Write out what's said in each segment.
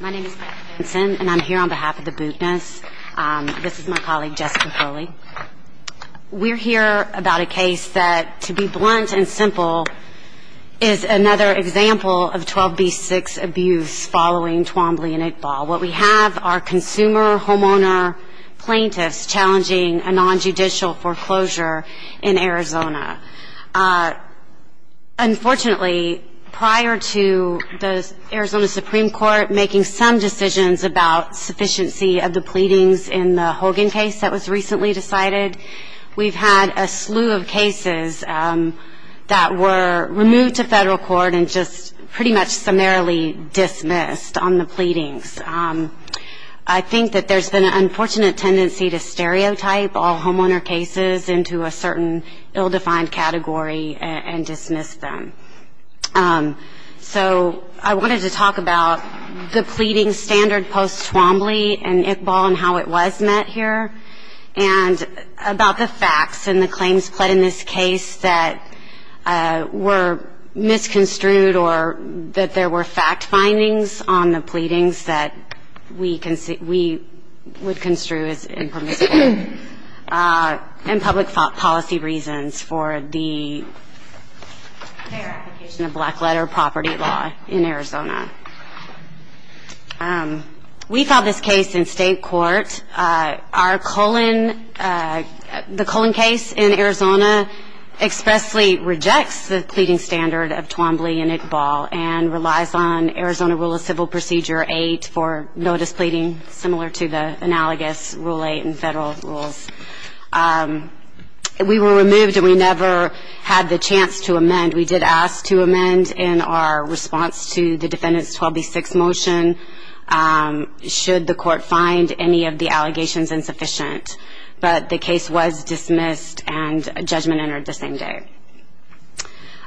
My name is Beth Vinson and I'm here on behalf of the Buchness. This is my colleague Jessica Crowley. We're here about a case that, to be blunt and simple, is another example of 12B6 abuse following Twombly and Iqbal. What we have are consumer homeowner plaintiffs challenging a non-judicial foreclosure in Arizona. Unfortunately, prior to the Arizona Supreme Court making some decisions about sufficiency of the pleadings in the Hogan case that was recently decided, we've had a slew of cases that were removed to federal court and just pretty much summarily dismissed on the pleadings. I think that there's been an unfortunate tendency to stereotype all homeowner cases into a certain ill-defined category and dismiss them. So I wanted to talk about the pleading standard post-Twombly and Iqbal and how it was met here, and about the facts and the claims pled in this case that were misconstrued or that there were fact findings on the pleadings that we would construe as impermissible, and public policy reasons for their application of black letter property law in Arizona. We filed this case in state court. Our Cullen, the Cullen case in Arizona expressly rejects the pleading standard of Twombly and Iqbal and relies on Arizona Rule of Civil Procedure 8 for notice pleading, similar to the analogous Rule 8 in federal court. We were removed and we never had the chance to amend. We did ask to amend in our response to the defendant's 12B6 motion, should the court find any of the allegations insufficient, but the case was dismissed and a judgment entered the same day.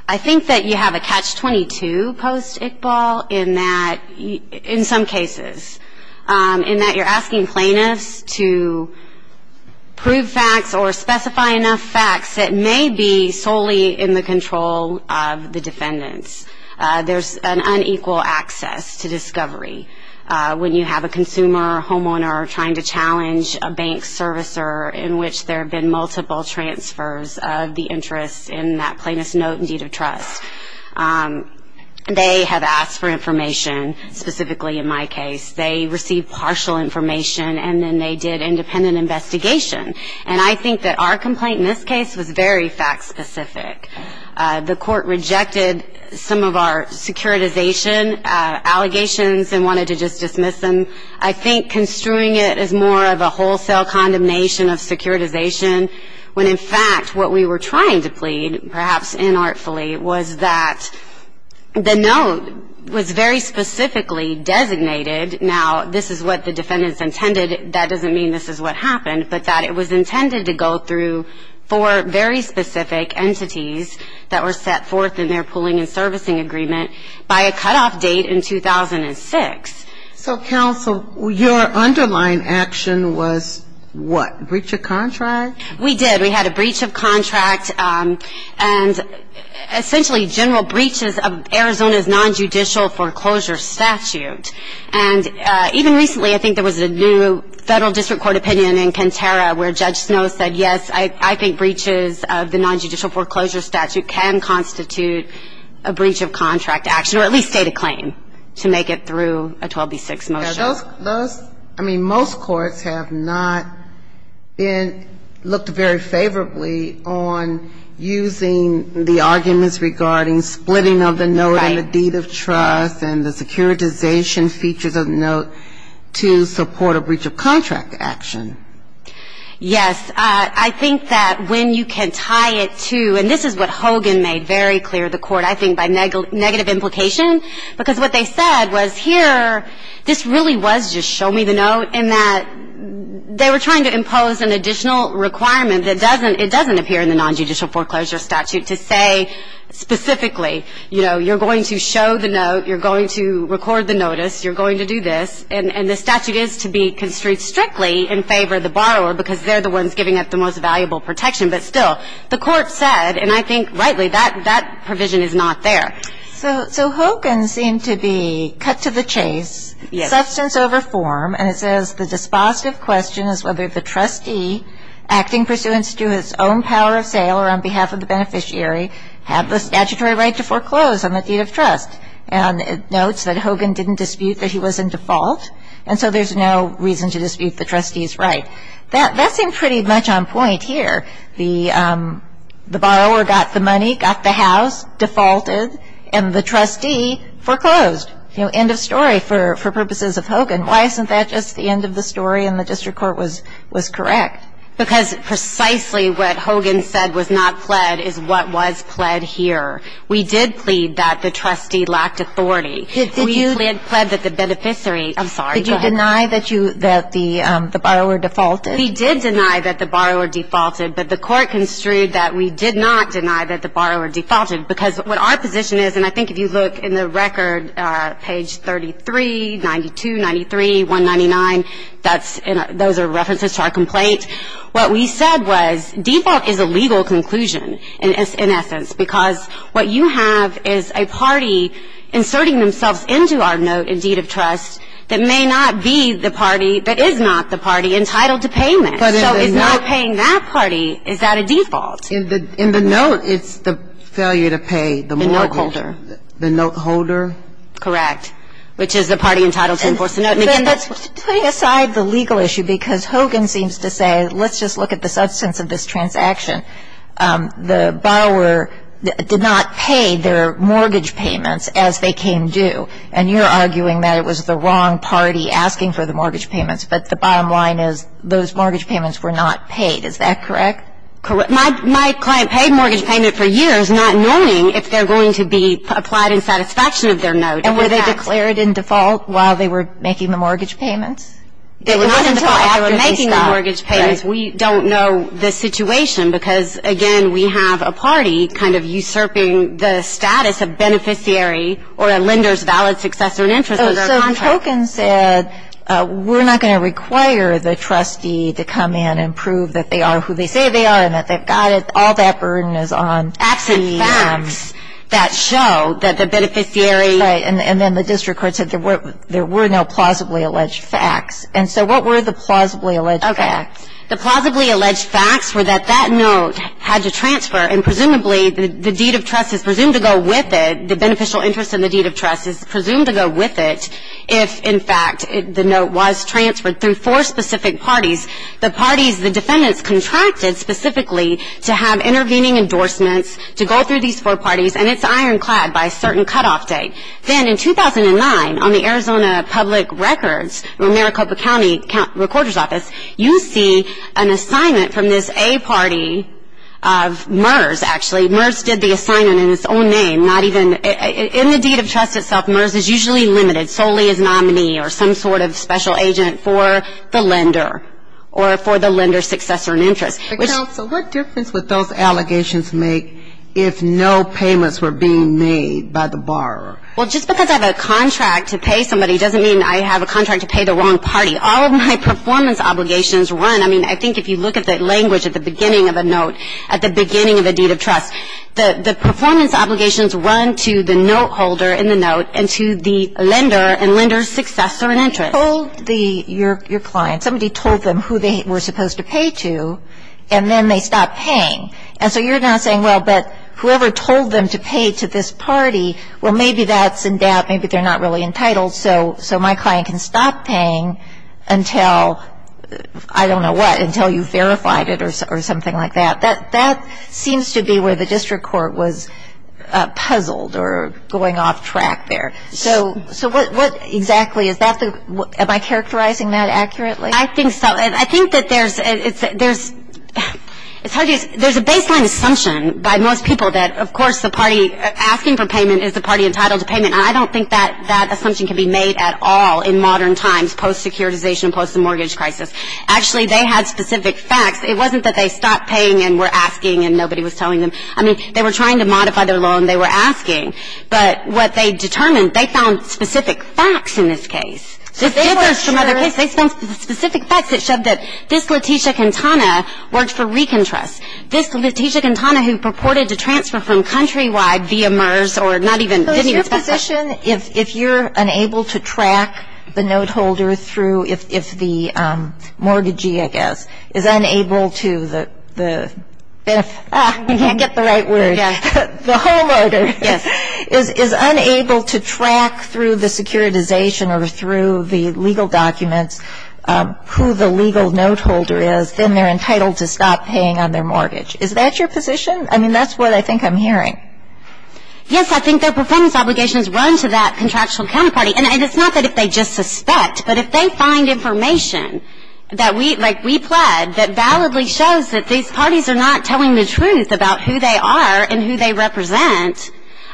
I think that you have a catch-22 post-Iqbal in that, in some cases, in that you're asking plaintiffs to, you know, prove facts or specify enough facts that may be solely in the control of the defendants. There's an unequal access to discovery when you have a consumer or homeowner trying to challenge a bank servicer in which there have been multiple transfers of the interest in that plaintiff's note and deed of trust. They have asked for information, specifically in my case. They received partial information, and then they did independent investigation. And I think that our complaint in this case was very fact-specific. The court rejected some of our securitization allegations and wanted to just dismiss them. I think construing it as more of a wholesale condemnation of securitization, when, in fact, what we were trying to plead, perhaps inartfully, was that the note was very fact-specific, and that it was intended to go through four very specific entities that were set forth in their pooling and servicing agreement by a cutoff date in 2006. So, counsel, your underlying action was what, breach of contract? We did. We had a breach of contract and essentially general breaches of Arizona's nonjudicial foreclosure statute. And even recently, I think, in Kenterra, where Judge Snow said, yes, I think breaches of the nonjudicial foreclosure statute can constitute a breach of contract action, or at least state a claim to make it through a 12B6 motion. Those, I mean, most courts have not looked very favorably on using the arguments regarding splitting of the note and the deed of trust and the securitization features of the note to support a breach of contract action. Yes. I think that when you can tie it to, and this is what Hogan made very clear to the court, I think, by negative implication, because what they said was, here, this really was just show me the note, and that they were trying to impose an additional requirement that doesn't appear in the nonjudicial foreclosure statute to say specifically, you know, you're going to show the note, you're going to record the note with the permanent request, and I'm also convinced, anyway, that there was no evidence against the counterpoint of the environmental judiciary. So that's no longer in the statute. You said that it seems like there's no calibration evidence trying to move things forward because they're the ones giving up the most valuable protection. But still, the Court said, and I think, rightly, that that provision is not there. So Hogan seemed to be cut to the chase ‑‑ Yes. That seemed pretty much on point here. The borrower got the money, got the house, defaulted, and the trustee foreclosed. You know, end of story for purposes of Hogan. Why isn't that just the end of the story and the district court was correct? Because precisely what Hogan said was not pled is what was pled here. We did plead that the trustee lacked authority. We pled that the beneficiary ‑‑ I'm sorry, go ahead. We did deny that the borrower defaulted. We did deny that the borrower defaulted, but the Court construed that we did not deny that the borrower defaulted. Because what our position is, and I think if you look in the record, page 33, 92, 93, 199, those are references to our complaint. What we said was default is a legal conclusion, in essence, because what you have is a party inserting themselves into our note in deed of trust that may not be the party, but is not the party, entitled to payment. So is not paying that party, is that a default? In the note, it's the failure to pay the mortgage. The note holder. The note holder. Correct, which is the party entitled to enforce the note. And again, that's putting aside the legal issue, because Hogan seems to say, let's just look at the substance of this transaction. The borrower did not pay their mortgage payments as they came due. And you're arguing that it was the wrong party asking for the mortgage payments. But the bottom line is those mortgage payments were not paid. Is that correct? Correct. My client paid mortgage payment for years, not knowing if they're going to be applied in satisfaction of their note. And were they declared in default while they were making the mortgage payments? They were not in default after they stopped. We don't know the situation, because, again, we have a party kind of usurping the status of beneficiary or a lender's valid successor in interest of their contract. So Hogan said, we're not going to require the trustee to come in and prove that they are who they say they are and that they've got it. All that burden is on the facts that show that the beneficiary. Right. And then the district court said there were no plausibly alleged facts. And so what were the plausibly alleged facts? Okay. The plausibly alleged facts were that that note had to transfer, and presumably the deed of trust is presumed to go with it, the beneficial interest in the deed of trust is presumed to go with it, if, in fact, the note was transferred through four specific parties. The parties, the defendants, contracted specifically to have intervening endorsements to go through these four parties, and it's ironclad by a certain cutoff date. Then in 2009, on the Arizona Public Records, Maricopa County Recorder's Office, you see an assignment from this A party of MERS, actually. MERS did the assignment in its own name, not even ñ in the deed of trust itself, MERS is usually limited, solely as nominee or some sort of special agent for the lender or for the lender's successor in interest. The counsel, what difference would those allegations make if no payments were being made by the borrower? Well, just because I have a contract to pay somebody doesn't mean I have a contract to pay the wrong party. All of my performance obligations run ñ I mean, I think if you look at the language at the beginning of a note, at the beginning of a deed of trust, the performance obligations run to the note holder in the note and to the lender and lender's successor in interest. If you told your client, somebody told them who they were supposed to pay to, and then they stopped paying, and so you're now saying, well, but whoever told them to pay to this party, well, maybe that's in debt, maybe they're not really entitled, so my client can stop paying until, I don't know what, until you've verified it or something like that. That seems to be where the district court was puzzled or going off track there. So what exactly is that? Am I characterizing that accurately? I think so. I think that there's ñ it's hard to ñ there's a baseline assumption by most people that, of course, the party asking for payment is the party entitled to payment. And I don't think that that assumption can be made at all in modern times, post-securitization, post the mortgage crisis. Actually, they had specific facts. It wasn't that they stopped paying and were asking and nobody was telling them. I mean, they were trying to modify their loan. They were asking. But what they determined, they found specific facts in this case. They found specific facts that showed that this Letitia Quintana worked for Rican Trust. This Letitia Quintana who purported to transfer from Countrywide via MERS or not even ñ So is your position, if you're unable to track the note holder through ñ if the mortgagee, I guess, is unable to ñ the ñ ah, I can't get the right word. The homeowner. Yes. Is unable to track through the securitization or through the legal documents who the legal note holder is, then they're entitled to stop paying on their mortgage. Is that your position? I mean, that's what I think I'm hearing. Yes, I think their performance obligations run to that contractual counterparty. And it's not that if they just suspect, but if they find information that we ñ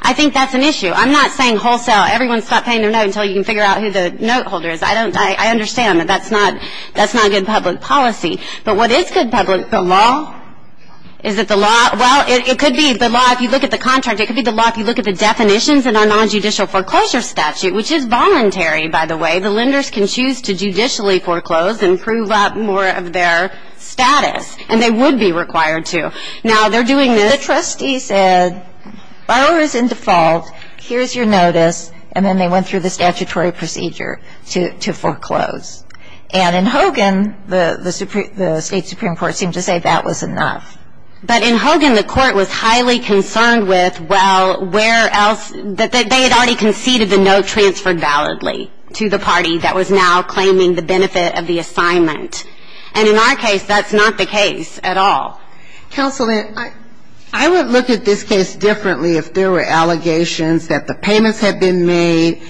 I think that's an issue. I'm not saying wholesale, everyone stop paying their note until you can figure out who the note holder is. I don't ñ I understand that that's not ñ that's not good public policy. But what is good public ñ the law? Is it the law? Well, it could be the law if you look at the contract. It could be the law if you look at the definitions in our nonjudicial foreclosure statute, which is voluntary, by the way. The lenders can choose to judicially foreclose and prove up more of their status. And they would be required to. Now, they're doing this. The trustee said, borrower is in default. Here's your notice. And then they went through the statutory procedure to foreclose. And in Hogan, the State Supreme Court seemed to say that was enough. But in Hogan, the court was highly concerned with, well, where else ñ that they had already conceded the note transferred validly to the party that was now claiming the benefit of the assignment. And in our case, that's not the case at all. Counsel, I would look at this case differently if there were allegations that the payments had been made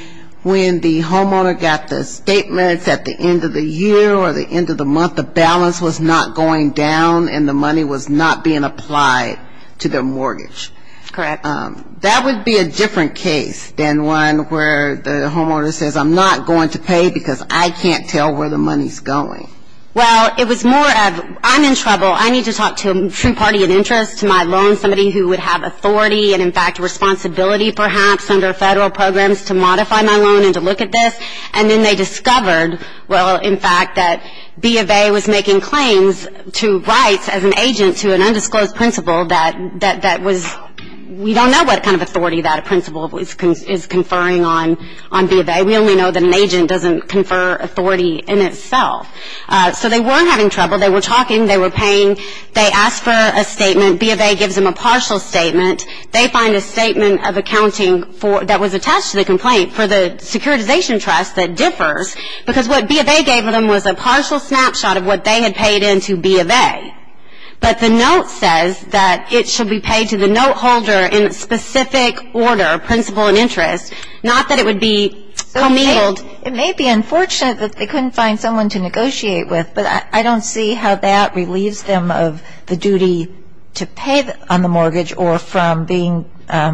when the homeowner got the statements at the end of the year or the end of the month, the balance was not going down and the money was not being applied to their mortgage. Correct. That would be a different case than one where the homeowner says, I'm not going to pay because I can't tell where the money's going. Well, it was more of, I'm in trouble. I need to talk to a true party of interest, to my loan, somebody who would have authority and, in fact, responsibility perhaps under Federal programs to modify my loan and to look at this. And then they discovered, well, in fact, that B of A was making claims to rights as an agent to an undisclosed principle that was ñ we don't know what kind of authority that principle is conferring on B of A. We only know that an agent doesn't confer authority in itself. So they were having trouble. They were talking. They were paying. They asked for a statement. B of A gives them a partial statement. They find a statement of accounting that was attached to the complaint for the securitization trust that differs because what B of A gave them was a partial snapshot of what they had paid into B of A. But the note says that it should be paid to the note holder in a specific order, principle and interest, not that it would be committed. It may be unfortunate that they couldn't find someone to negotiate with, but I don't see how that relieves them of the duty to pay on the mortgage or from being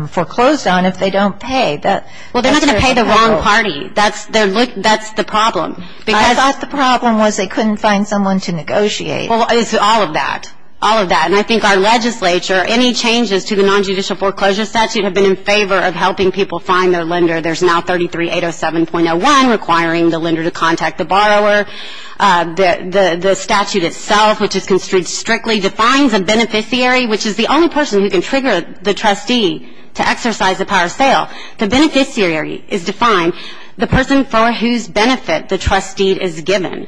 foreclosed on if they don't pay. Well, they're not going to pay the wrong party. That's the problem. I thought the problem was they couldn't find someone to negotiate. Well, it's all of that, all of that. And I think our legislature, any changes to the nonjudicial foreclosure statute have been in favor of helping people find their lender. There's now 33-807.01 requiring the lender to contact the borrower. The statute itself, which is construed strictly, defines a beneficiary, which is the only person who can trigger the trustee to exercise the power of sale. The beneficiary is defined, the person for whose benefit the trustee is given.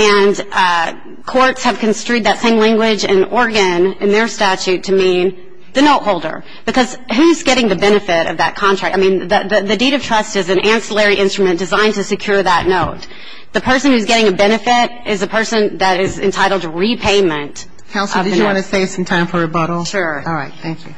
And courts have construed that same language in Oregon in their statute to mean the note holder because who's getting the benefit of that contract? I mean, the deed of trust is an ancillary instrument designed to secure that note. The person who's getting a benefit is a person that is entitled to repayment. Counsel, did you want to save some time for rebuttal? Sure. All right. Thank you.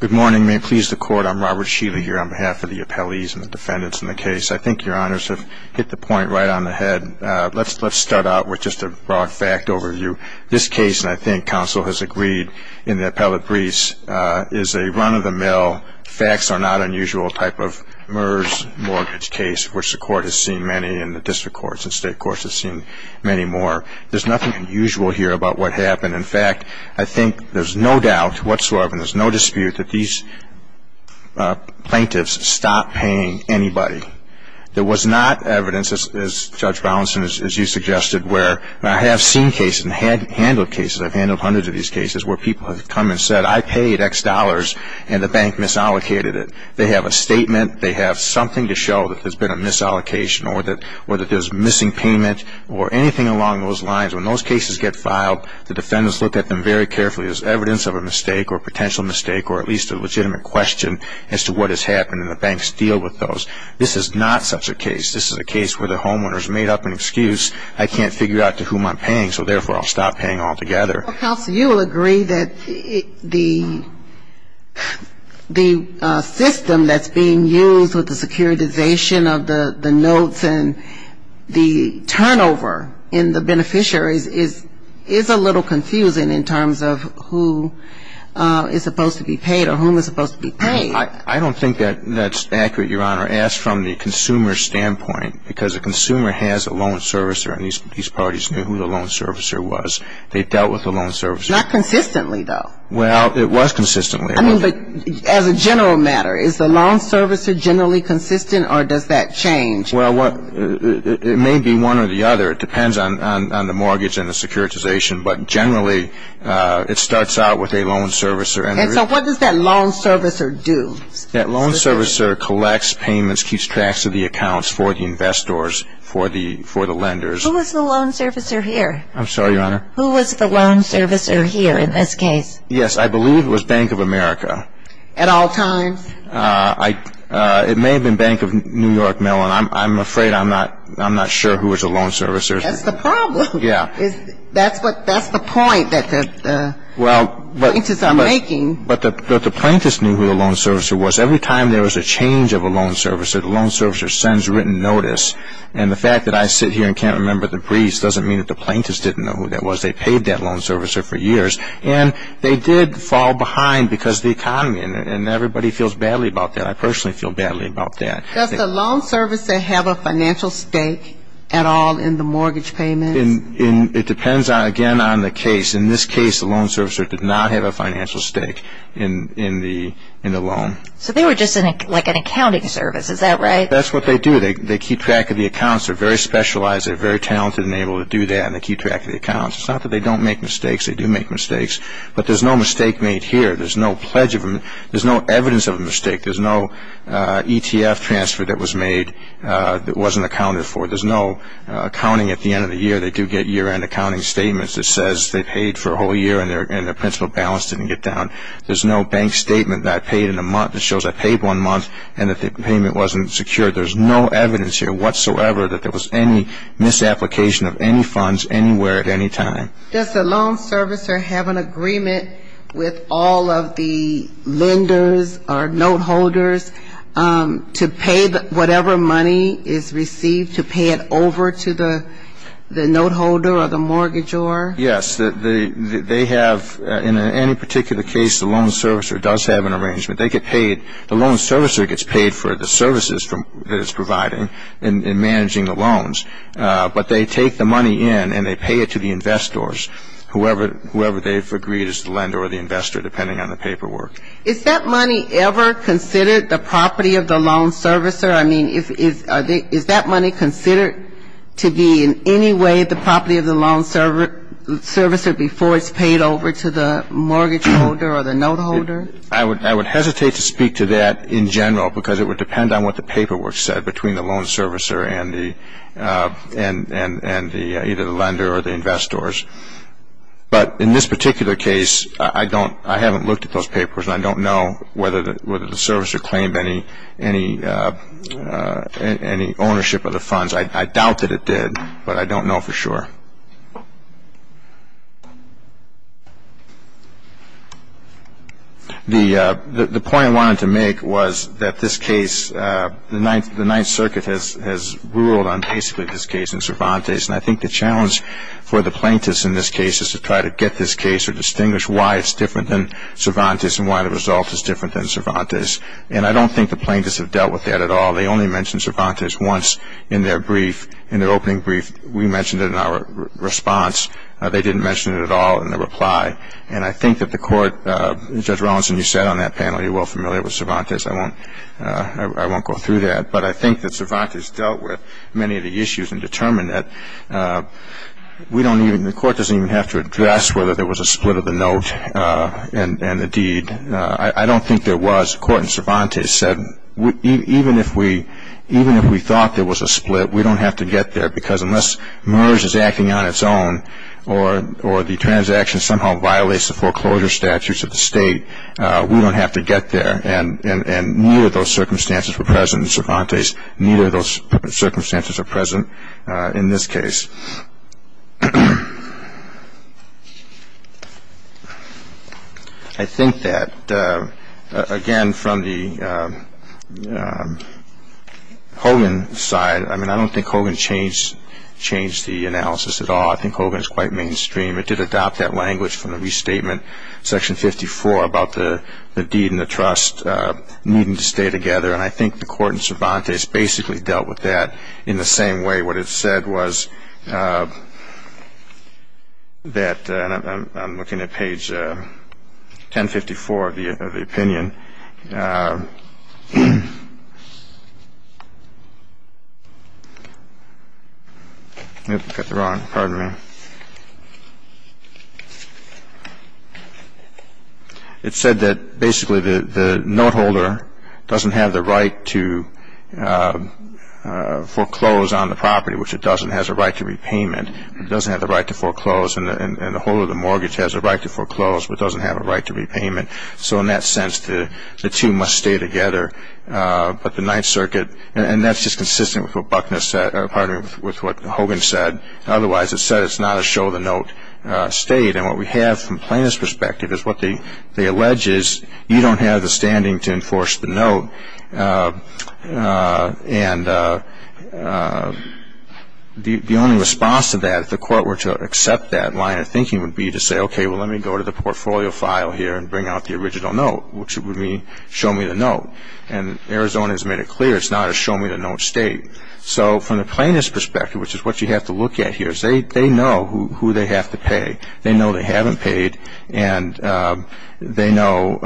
Good morning. May it please the Court. I'm Robert Sheely here on behalf of the appellees and the defendants in the case. I think Your Honors have hit the point right on the head. Let's start out with just a broad fact overview. This case, and I think counsel has agreed in the appellate briefs, is a run-of-the-mill, facts-are-not-unusual type of MERS mortgage case, which the Court has seen many and the district courts and state courts have seen many more. There's nothing unusual here about what happened. In fact, I think there's no doubt whatsoever and there's no dispute that these plaintiffs stopped paying anybody. There was not evidence, as Judge Brownson, as you suggested, where I have seen cases and handled cases, I've handled hundreds of these cases, where people have come and said, I paid X dollars and the bank misallocated it. They have a statement, they have something to show that there's been a misallocation or that there's missing payment or anything along those lines. When those cases get filed, the defendants look at them very carefully. There's evidence of a mistake or potential mistake or at least a legitimate question as to what has happened and the banks deal with those. This is not such a case. This is a case where the homeowner has made up an excuse, I can't figure out to whom I'm paying so therefore I'll stop paying altogether. Counsel, you will agree that the system that's being used with the securitization of the notes and the turnover in the beneficiary is a little confusing in terms of who is supposed to be paid or whom is supposed to be paid. I don't think that's accurate, Your Honor. Ask from the consumer standpoint because the consumer has a loan servicer and these parties knew who the loan servicer was. They dealt with the loan servicer. Not consistently, though. Well, it was consistently. I mean, but as a general matter, is the loan servicer generally consistent or does that change? Well, it may be one or the other. It depends on the mortgage and the securitization, but generally it starts out with a loan servicer. And so what does that loan servicer do? That loan servicer collects payments, keeps track of the accounts for the investors, for the lenders. Who was the loan servicer here? I'm sorry, Your Honor. Who was the loan servicer here in this case? Yes, I believe it was Bank of America. At all times? It may have been Bank of New York, Mellon. I'm afraid I'm not sure who was the loan servicer. That's the problem. Yeah. That's the point that the plaintiffs are making. But the plaintiffs knew who the loan servicer was. Every time there was a change of a loan servicer, the loan servicer sends written notice. And the fact that I sit here and can't remember the briefs doesn't mean that the plaintiffs didn't know who that was. They paid that loan servicer for years. And they did fall behind because of the economy, and everybody feels badly about that. I personally feel badly about that. Does the loan servicer have a financial stake at all in the mortgage payments? It depends, again, on the case. In this case, the loan servicer did not have a financial stake in the loan. So they were just like an accounting service. Is that right? That's what they do. They keep track of the accounts. They're very specialized. They're very talented and able to do that, and they keep track of the accounts. It's not that they don't make mistakes. They do make mistakes. But there's no mistake made here. There's no pledge of them. There's no evidence of a mistake. There's no ETF transfer that was made that wasn't accounted for. There's no accounting at the end of the year. They do get year-end accounting statements that says they paid for a whole year, and their principal balance didn't get down. There's no bank statement that I paid in a month that shows I paid one month and that the payment wasn't secured. There's no evidence here whatsoever that there was any misapplication of any funds anywhere at any time. Does the loan servicer have an agreement with all of the lenders or note holders to pay whatever money is received, to pay it over to the note holder or the mortgagor? Yes. They have, in any particular case, the loan servicer does have an arrangement. The loan servicer gets paid for the services that it's providing in managing the loans, but they take the money in and they pay it to the investors, whoever they've agreed is the lender or the investor, depending on the paperwork. Is that money ever considered the property of the loan servicer? I mean, is that money considered to be in any way the property of the loan servicer before it's paid over to the mortgage holder or the note holder? I would hesitate to speak to that in general because it would depend on what the paperwork said between the loan servicer and either the lender or the investors. But in this particular case, I haven't looked at those papers and I don't know whether the servicer claimed any ownership of the funds. I doubt that it did, but I don't know for sure. The point I wanted to make was that this case, the Ninth Circuit has ruled on basically this case in Cervantes, and I think the challenge for the plaintiffs in this case is to try to get this case or distinguish why it's different than Cervantes and why the result is different than Cervantes. And I don't think the plaintiffs have dealt with that at all. They only mentioned Cervantes once in their brief, in their opening brief. We mentioned it in our response. They didn't mention it at all in their reply. And I think that the court, Judge Rawlinson, you said on that panel you're well familiar with Cervantes. I won't go through that. But I think that Cervantes dealt with many of the issues and determined that the court doesn't even have to address whether there was a split of the note and the deed. I don't think there was. The court in Cervantes said even if we thought there was a split, we don't have to get there because unless MERS is acting on its own or the transaction somehow violates the foreclosure statutes of the state, we don't have to get there. And neither of those circumstances were present in Cervantes. Neither of those circumstances are present in this case. I think that, again, from the Hogan side, I mean, I don't think Hogan changed the analysis at all. I think Hogan is quite mainstream. It did adopt that language from the restatement, Section 54, about the deed and the trust needing to stay together. And I think the court in Cervantes basically dealt with that in the same way. What it said was that, and I'm looking at page 1054 of the opinion. I got that wrong. Pardon me. It said that basically the note holder doesn't have the right to foreclose on the property, which it doesn't, has a right to repayment. It doesn't have the right to foreclose. And the holder of the mortgage has a right to foreclose but doesn't have a right to repayment. So in that sense, the two must stay together. But the Ninth Circuit, and that's just consistent with what Hogan said. Otherwise, it said it's not a show-the-note state. And what we have from Plaintiff's perspective is what they allege is you don't have the standing to enforce the note. And the only response to that, if the court were to accept that line of thinking, would be to say, okay, well, let me go to the portfolio file here and bring out the original note, which would mean show me the note. And Arizona has made it clear it's not a show-me-the-note state. So from the plaintiff's perspective, which is what you have to look at here, is they know who they have to pay. They know they haven't paid, and they know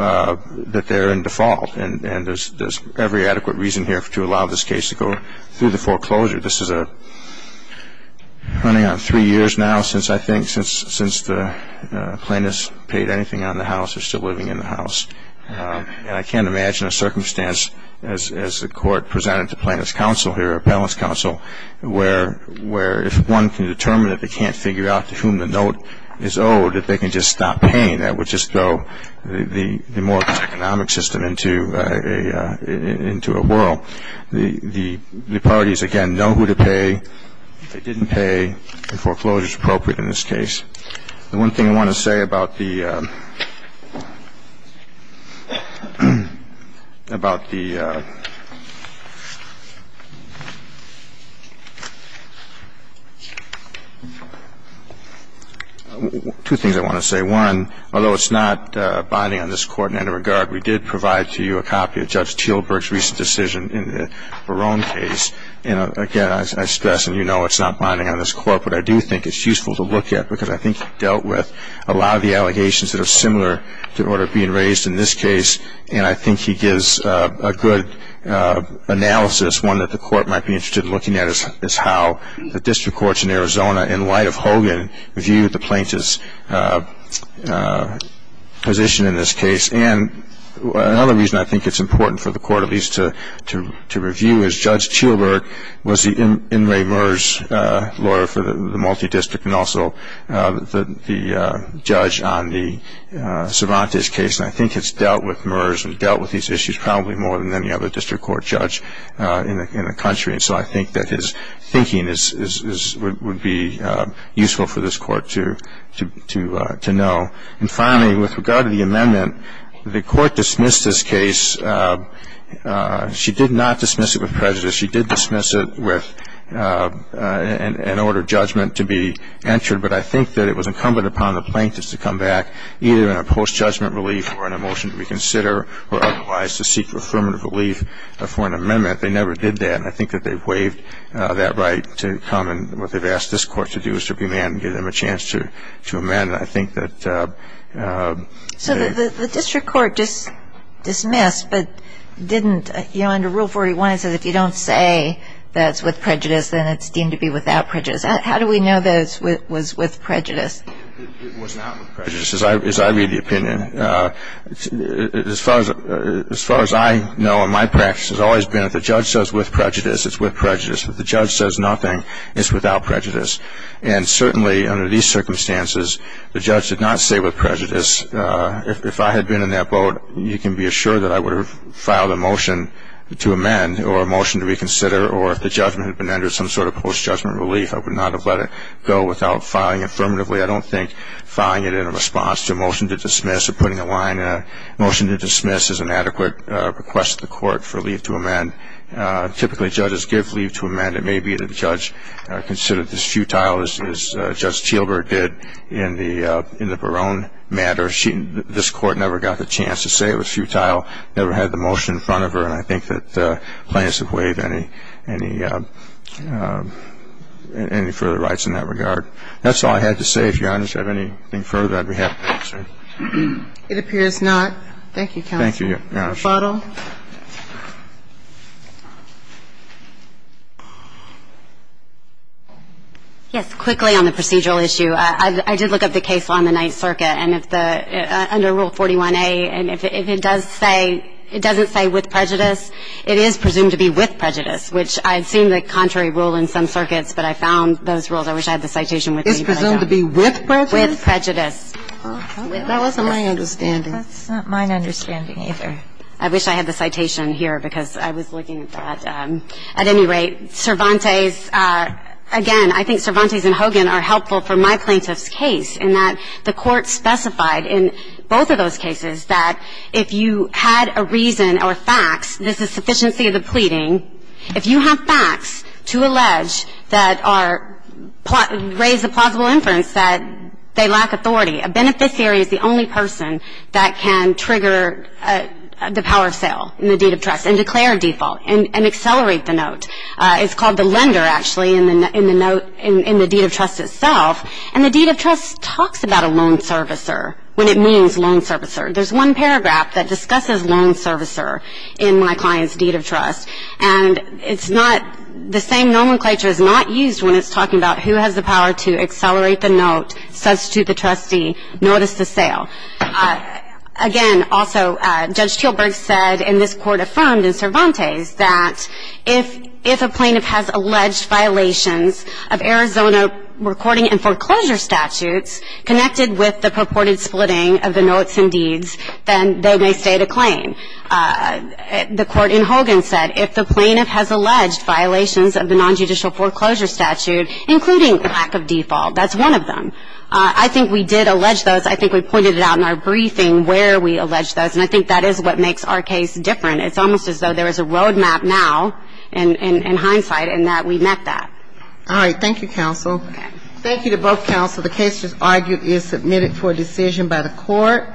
that they're in default. And there's every adequate reason here to allow this case to go through the foreclosure. This is running on three years now since I think the plaintiff's paid anything on the house or is still living in the house. And I can't imagine a circumstance, as the court presented to plaintiff's counsel here, or appellant's counsel, where if one can determine that they can't figure out to whom the note is owed, that they can just stop paying. That would just throw the mortgage economic system into a whirl. The parties, again, know who to pay. They didn't pay. The foreclosure is appropriate in this case. The one thing I want to say about the – about the – two things I want to say. One, although it's not binding on this Court in any regard, we did provide to you a copy of Judge Teelburg's recent decision in the Barone case. And, again, I stress, and you know it's not binding on this Court, but I do think it's useful to look at because I think he dealt with a lot of the allegations that are similar to what are being raised in this case. And I think he gives a good analysis. One that the Court might be interested in looking at is how the district courts in Arizona, in light of Hogan, view the plaintiff's position in this case. And another reason I think it's important for the Court at least to review is Judge Teelburg was the In re Meurs lawyer for the multi-district and also the judge on the Cervantes case. And I think it's dealt with Meurs and dealt with these issues probably more than any other district court judge in the country. And so I think that his thinking is – would be useful for this Court to know. And, finally, with regard to the amendment, the Court dismissed this case. She did not dismiss it with prejudice. She did dismiss it with an order of judgment to be entered. But I think that it was incumbent upon the plaintiffs to come back either in a post-judgment relief or in a motion to reconsider or otherwise to seek affirmative relief for an amendment. They never did that. And I think that they've waived that right to come. And what they've asked this Court to do is to remand and give them a chance to amend. And I think that they – So the district court just dismissed but didn't – you know, under Rule 41 it says, if you don't say that it's with prejudice, then it's deemed to be without prejudice. How do we know that it was with prejudice? It was not with prejudice, as I read the opinion. As far as I know, and my practice has always been, if the judge says with prejudice, it's with prejudice. If the judge says nothing, it's without prejudice. And certainly under these circumstances, the judge did not say with prejudice. If I had been in that boat, you can be assured that I would have filed a motion to amend or a motion to reconsider, or if the judgment had been entered as some sort of post-judgment relief, I would not have let it go without filing affirmatively. I don't think filing it in response to a motion to dismiss or putting a line in a motion to dismiss is an adequate request to the Court for leave to amend. Typically judges give leave to amend. It may be that the judge considered this futile, as Judge Chilbert did in the Barone matter. This Court never got the chance to say it was futile, never had the motion in front of her, and I think that plaintiffs have waived any further rights in that regard. That's all I had to say. If Your Honor should have anything further, I'd be happy to answer. It appears not. Thank you, counsel. Thank you, Your Honor. Ms. Kagan. It would be my pleasure, Your Honor, to permit the motion to amend now. Thank you, Your Honor. We have time for one more question. Carter, please. Yes. I'm sorry, Your Honor. Yes, quickly on the procedural issue. I did look up the case on the 9th Circuit, and if the under Rule 41-a, and if it does say – it doesn't say with prejudice, it is presumed to be with prejudice, which I've seen the contrary rule in some circuits, but I found those rules. I wish I had the citation with me, but I don't. It's presumed to be with prejudice? With prejudice. That wasn't my understanding. That's not my understanding either. I wish I had the citation here, because I was looking at that. At any rate, Cervantes – again, I think Cervantes and Hogan are helpful for my plaintiff's case in that the Court specified in both of those cases that if you had a reason or facts, this is sufficiency of the pleading. If you have facts to allege that are – raise a plausible inference that they lack authority, a beneficiary is the only person that can trigger the power of sale in the deed of trust and declare a default and accelerate the note. It's called the lender, actually, in the deed of trust itself, and the deed of trust talks about a loan servicer when it means loan servicer. There's one paragraph that discusses loan servicer in my client's deed of trust, and it's not – the same nomenclature is not used when it's talking about who has the power to accelerate the note, substitute the trustee, notice the sale. Again, also, Judge Teelberg said, and this Court affirmed in Cervantes, that if a plaintiff has alleged violations of Arizona recording and foreclosure statutes connected with the purported splitting of the notes and deeds, then they may stay the claim. The Court in Hogan said if the plaintiff has alleged violations of the nonjudicial foreclosure statute, including lack of default, that's one of them. I think we did allege those. I think we pointed it out in our briefing where we allege those, and I think that is what makes our case different. It's almost as though there is a road map now in hindsight and that we met that. All right. Thank you, counsel. Thank you to both counsel. The case, as argued, is submitted for decision by the Court.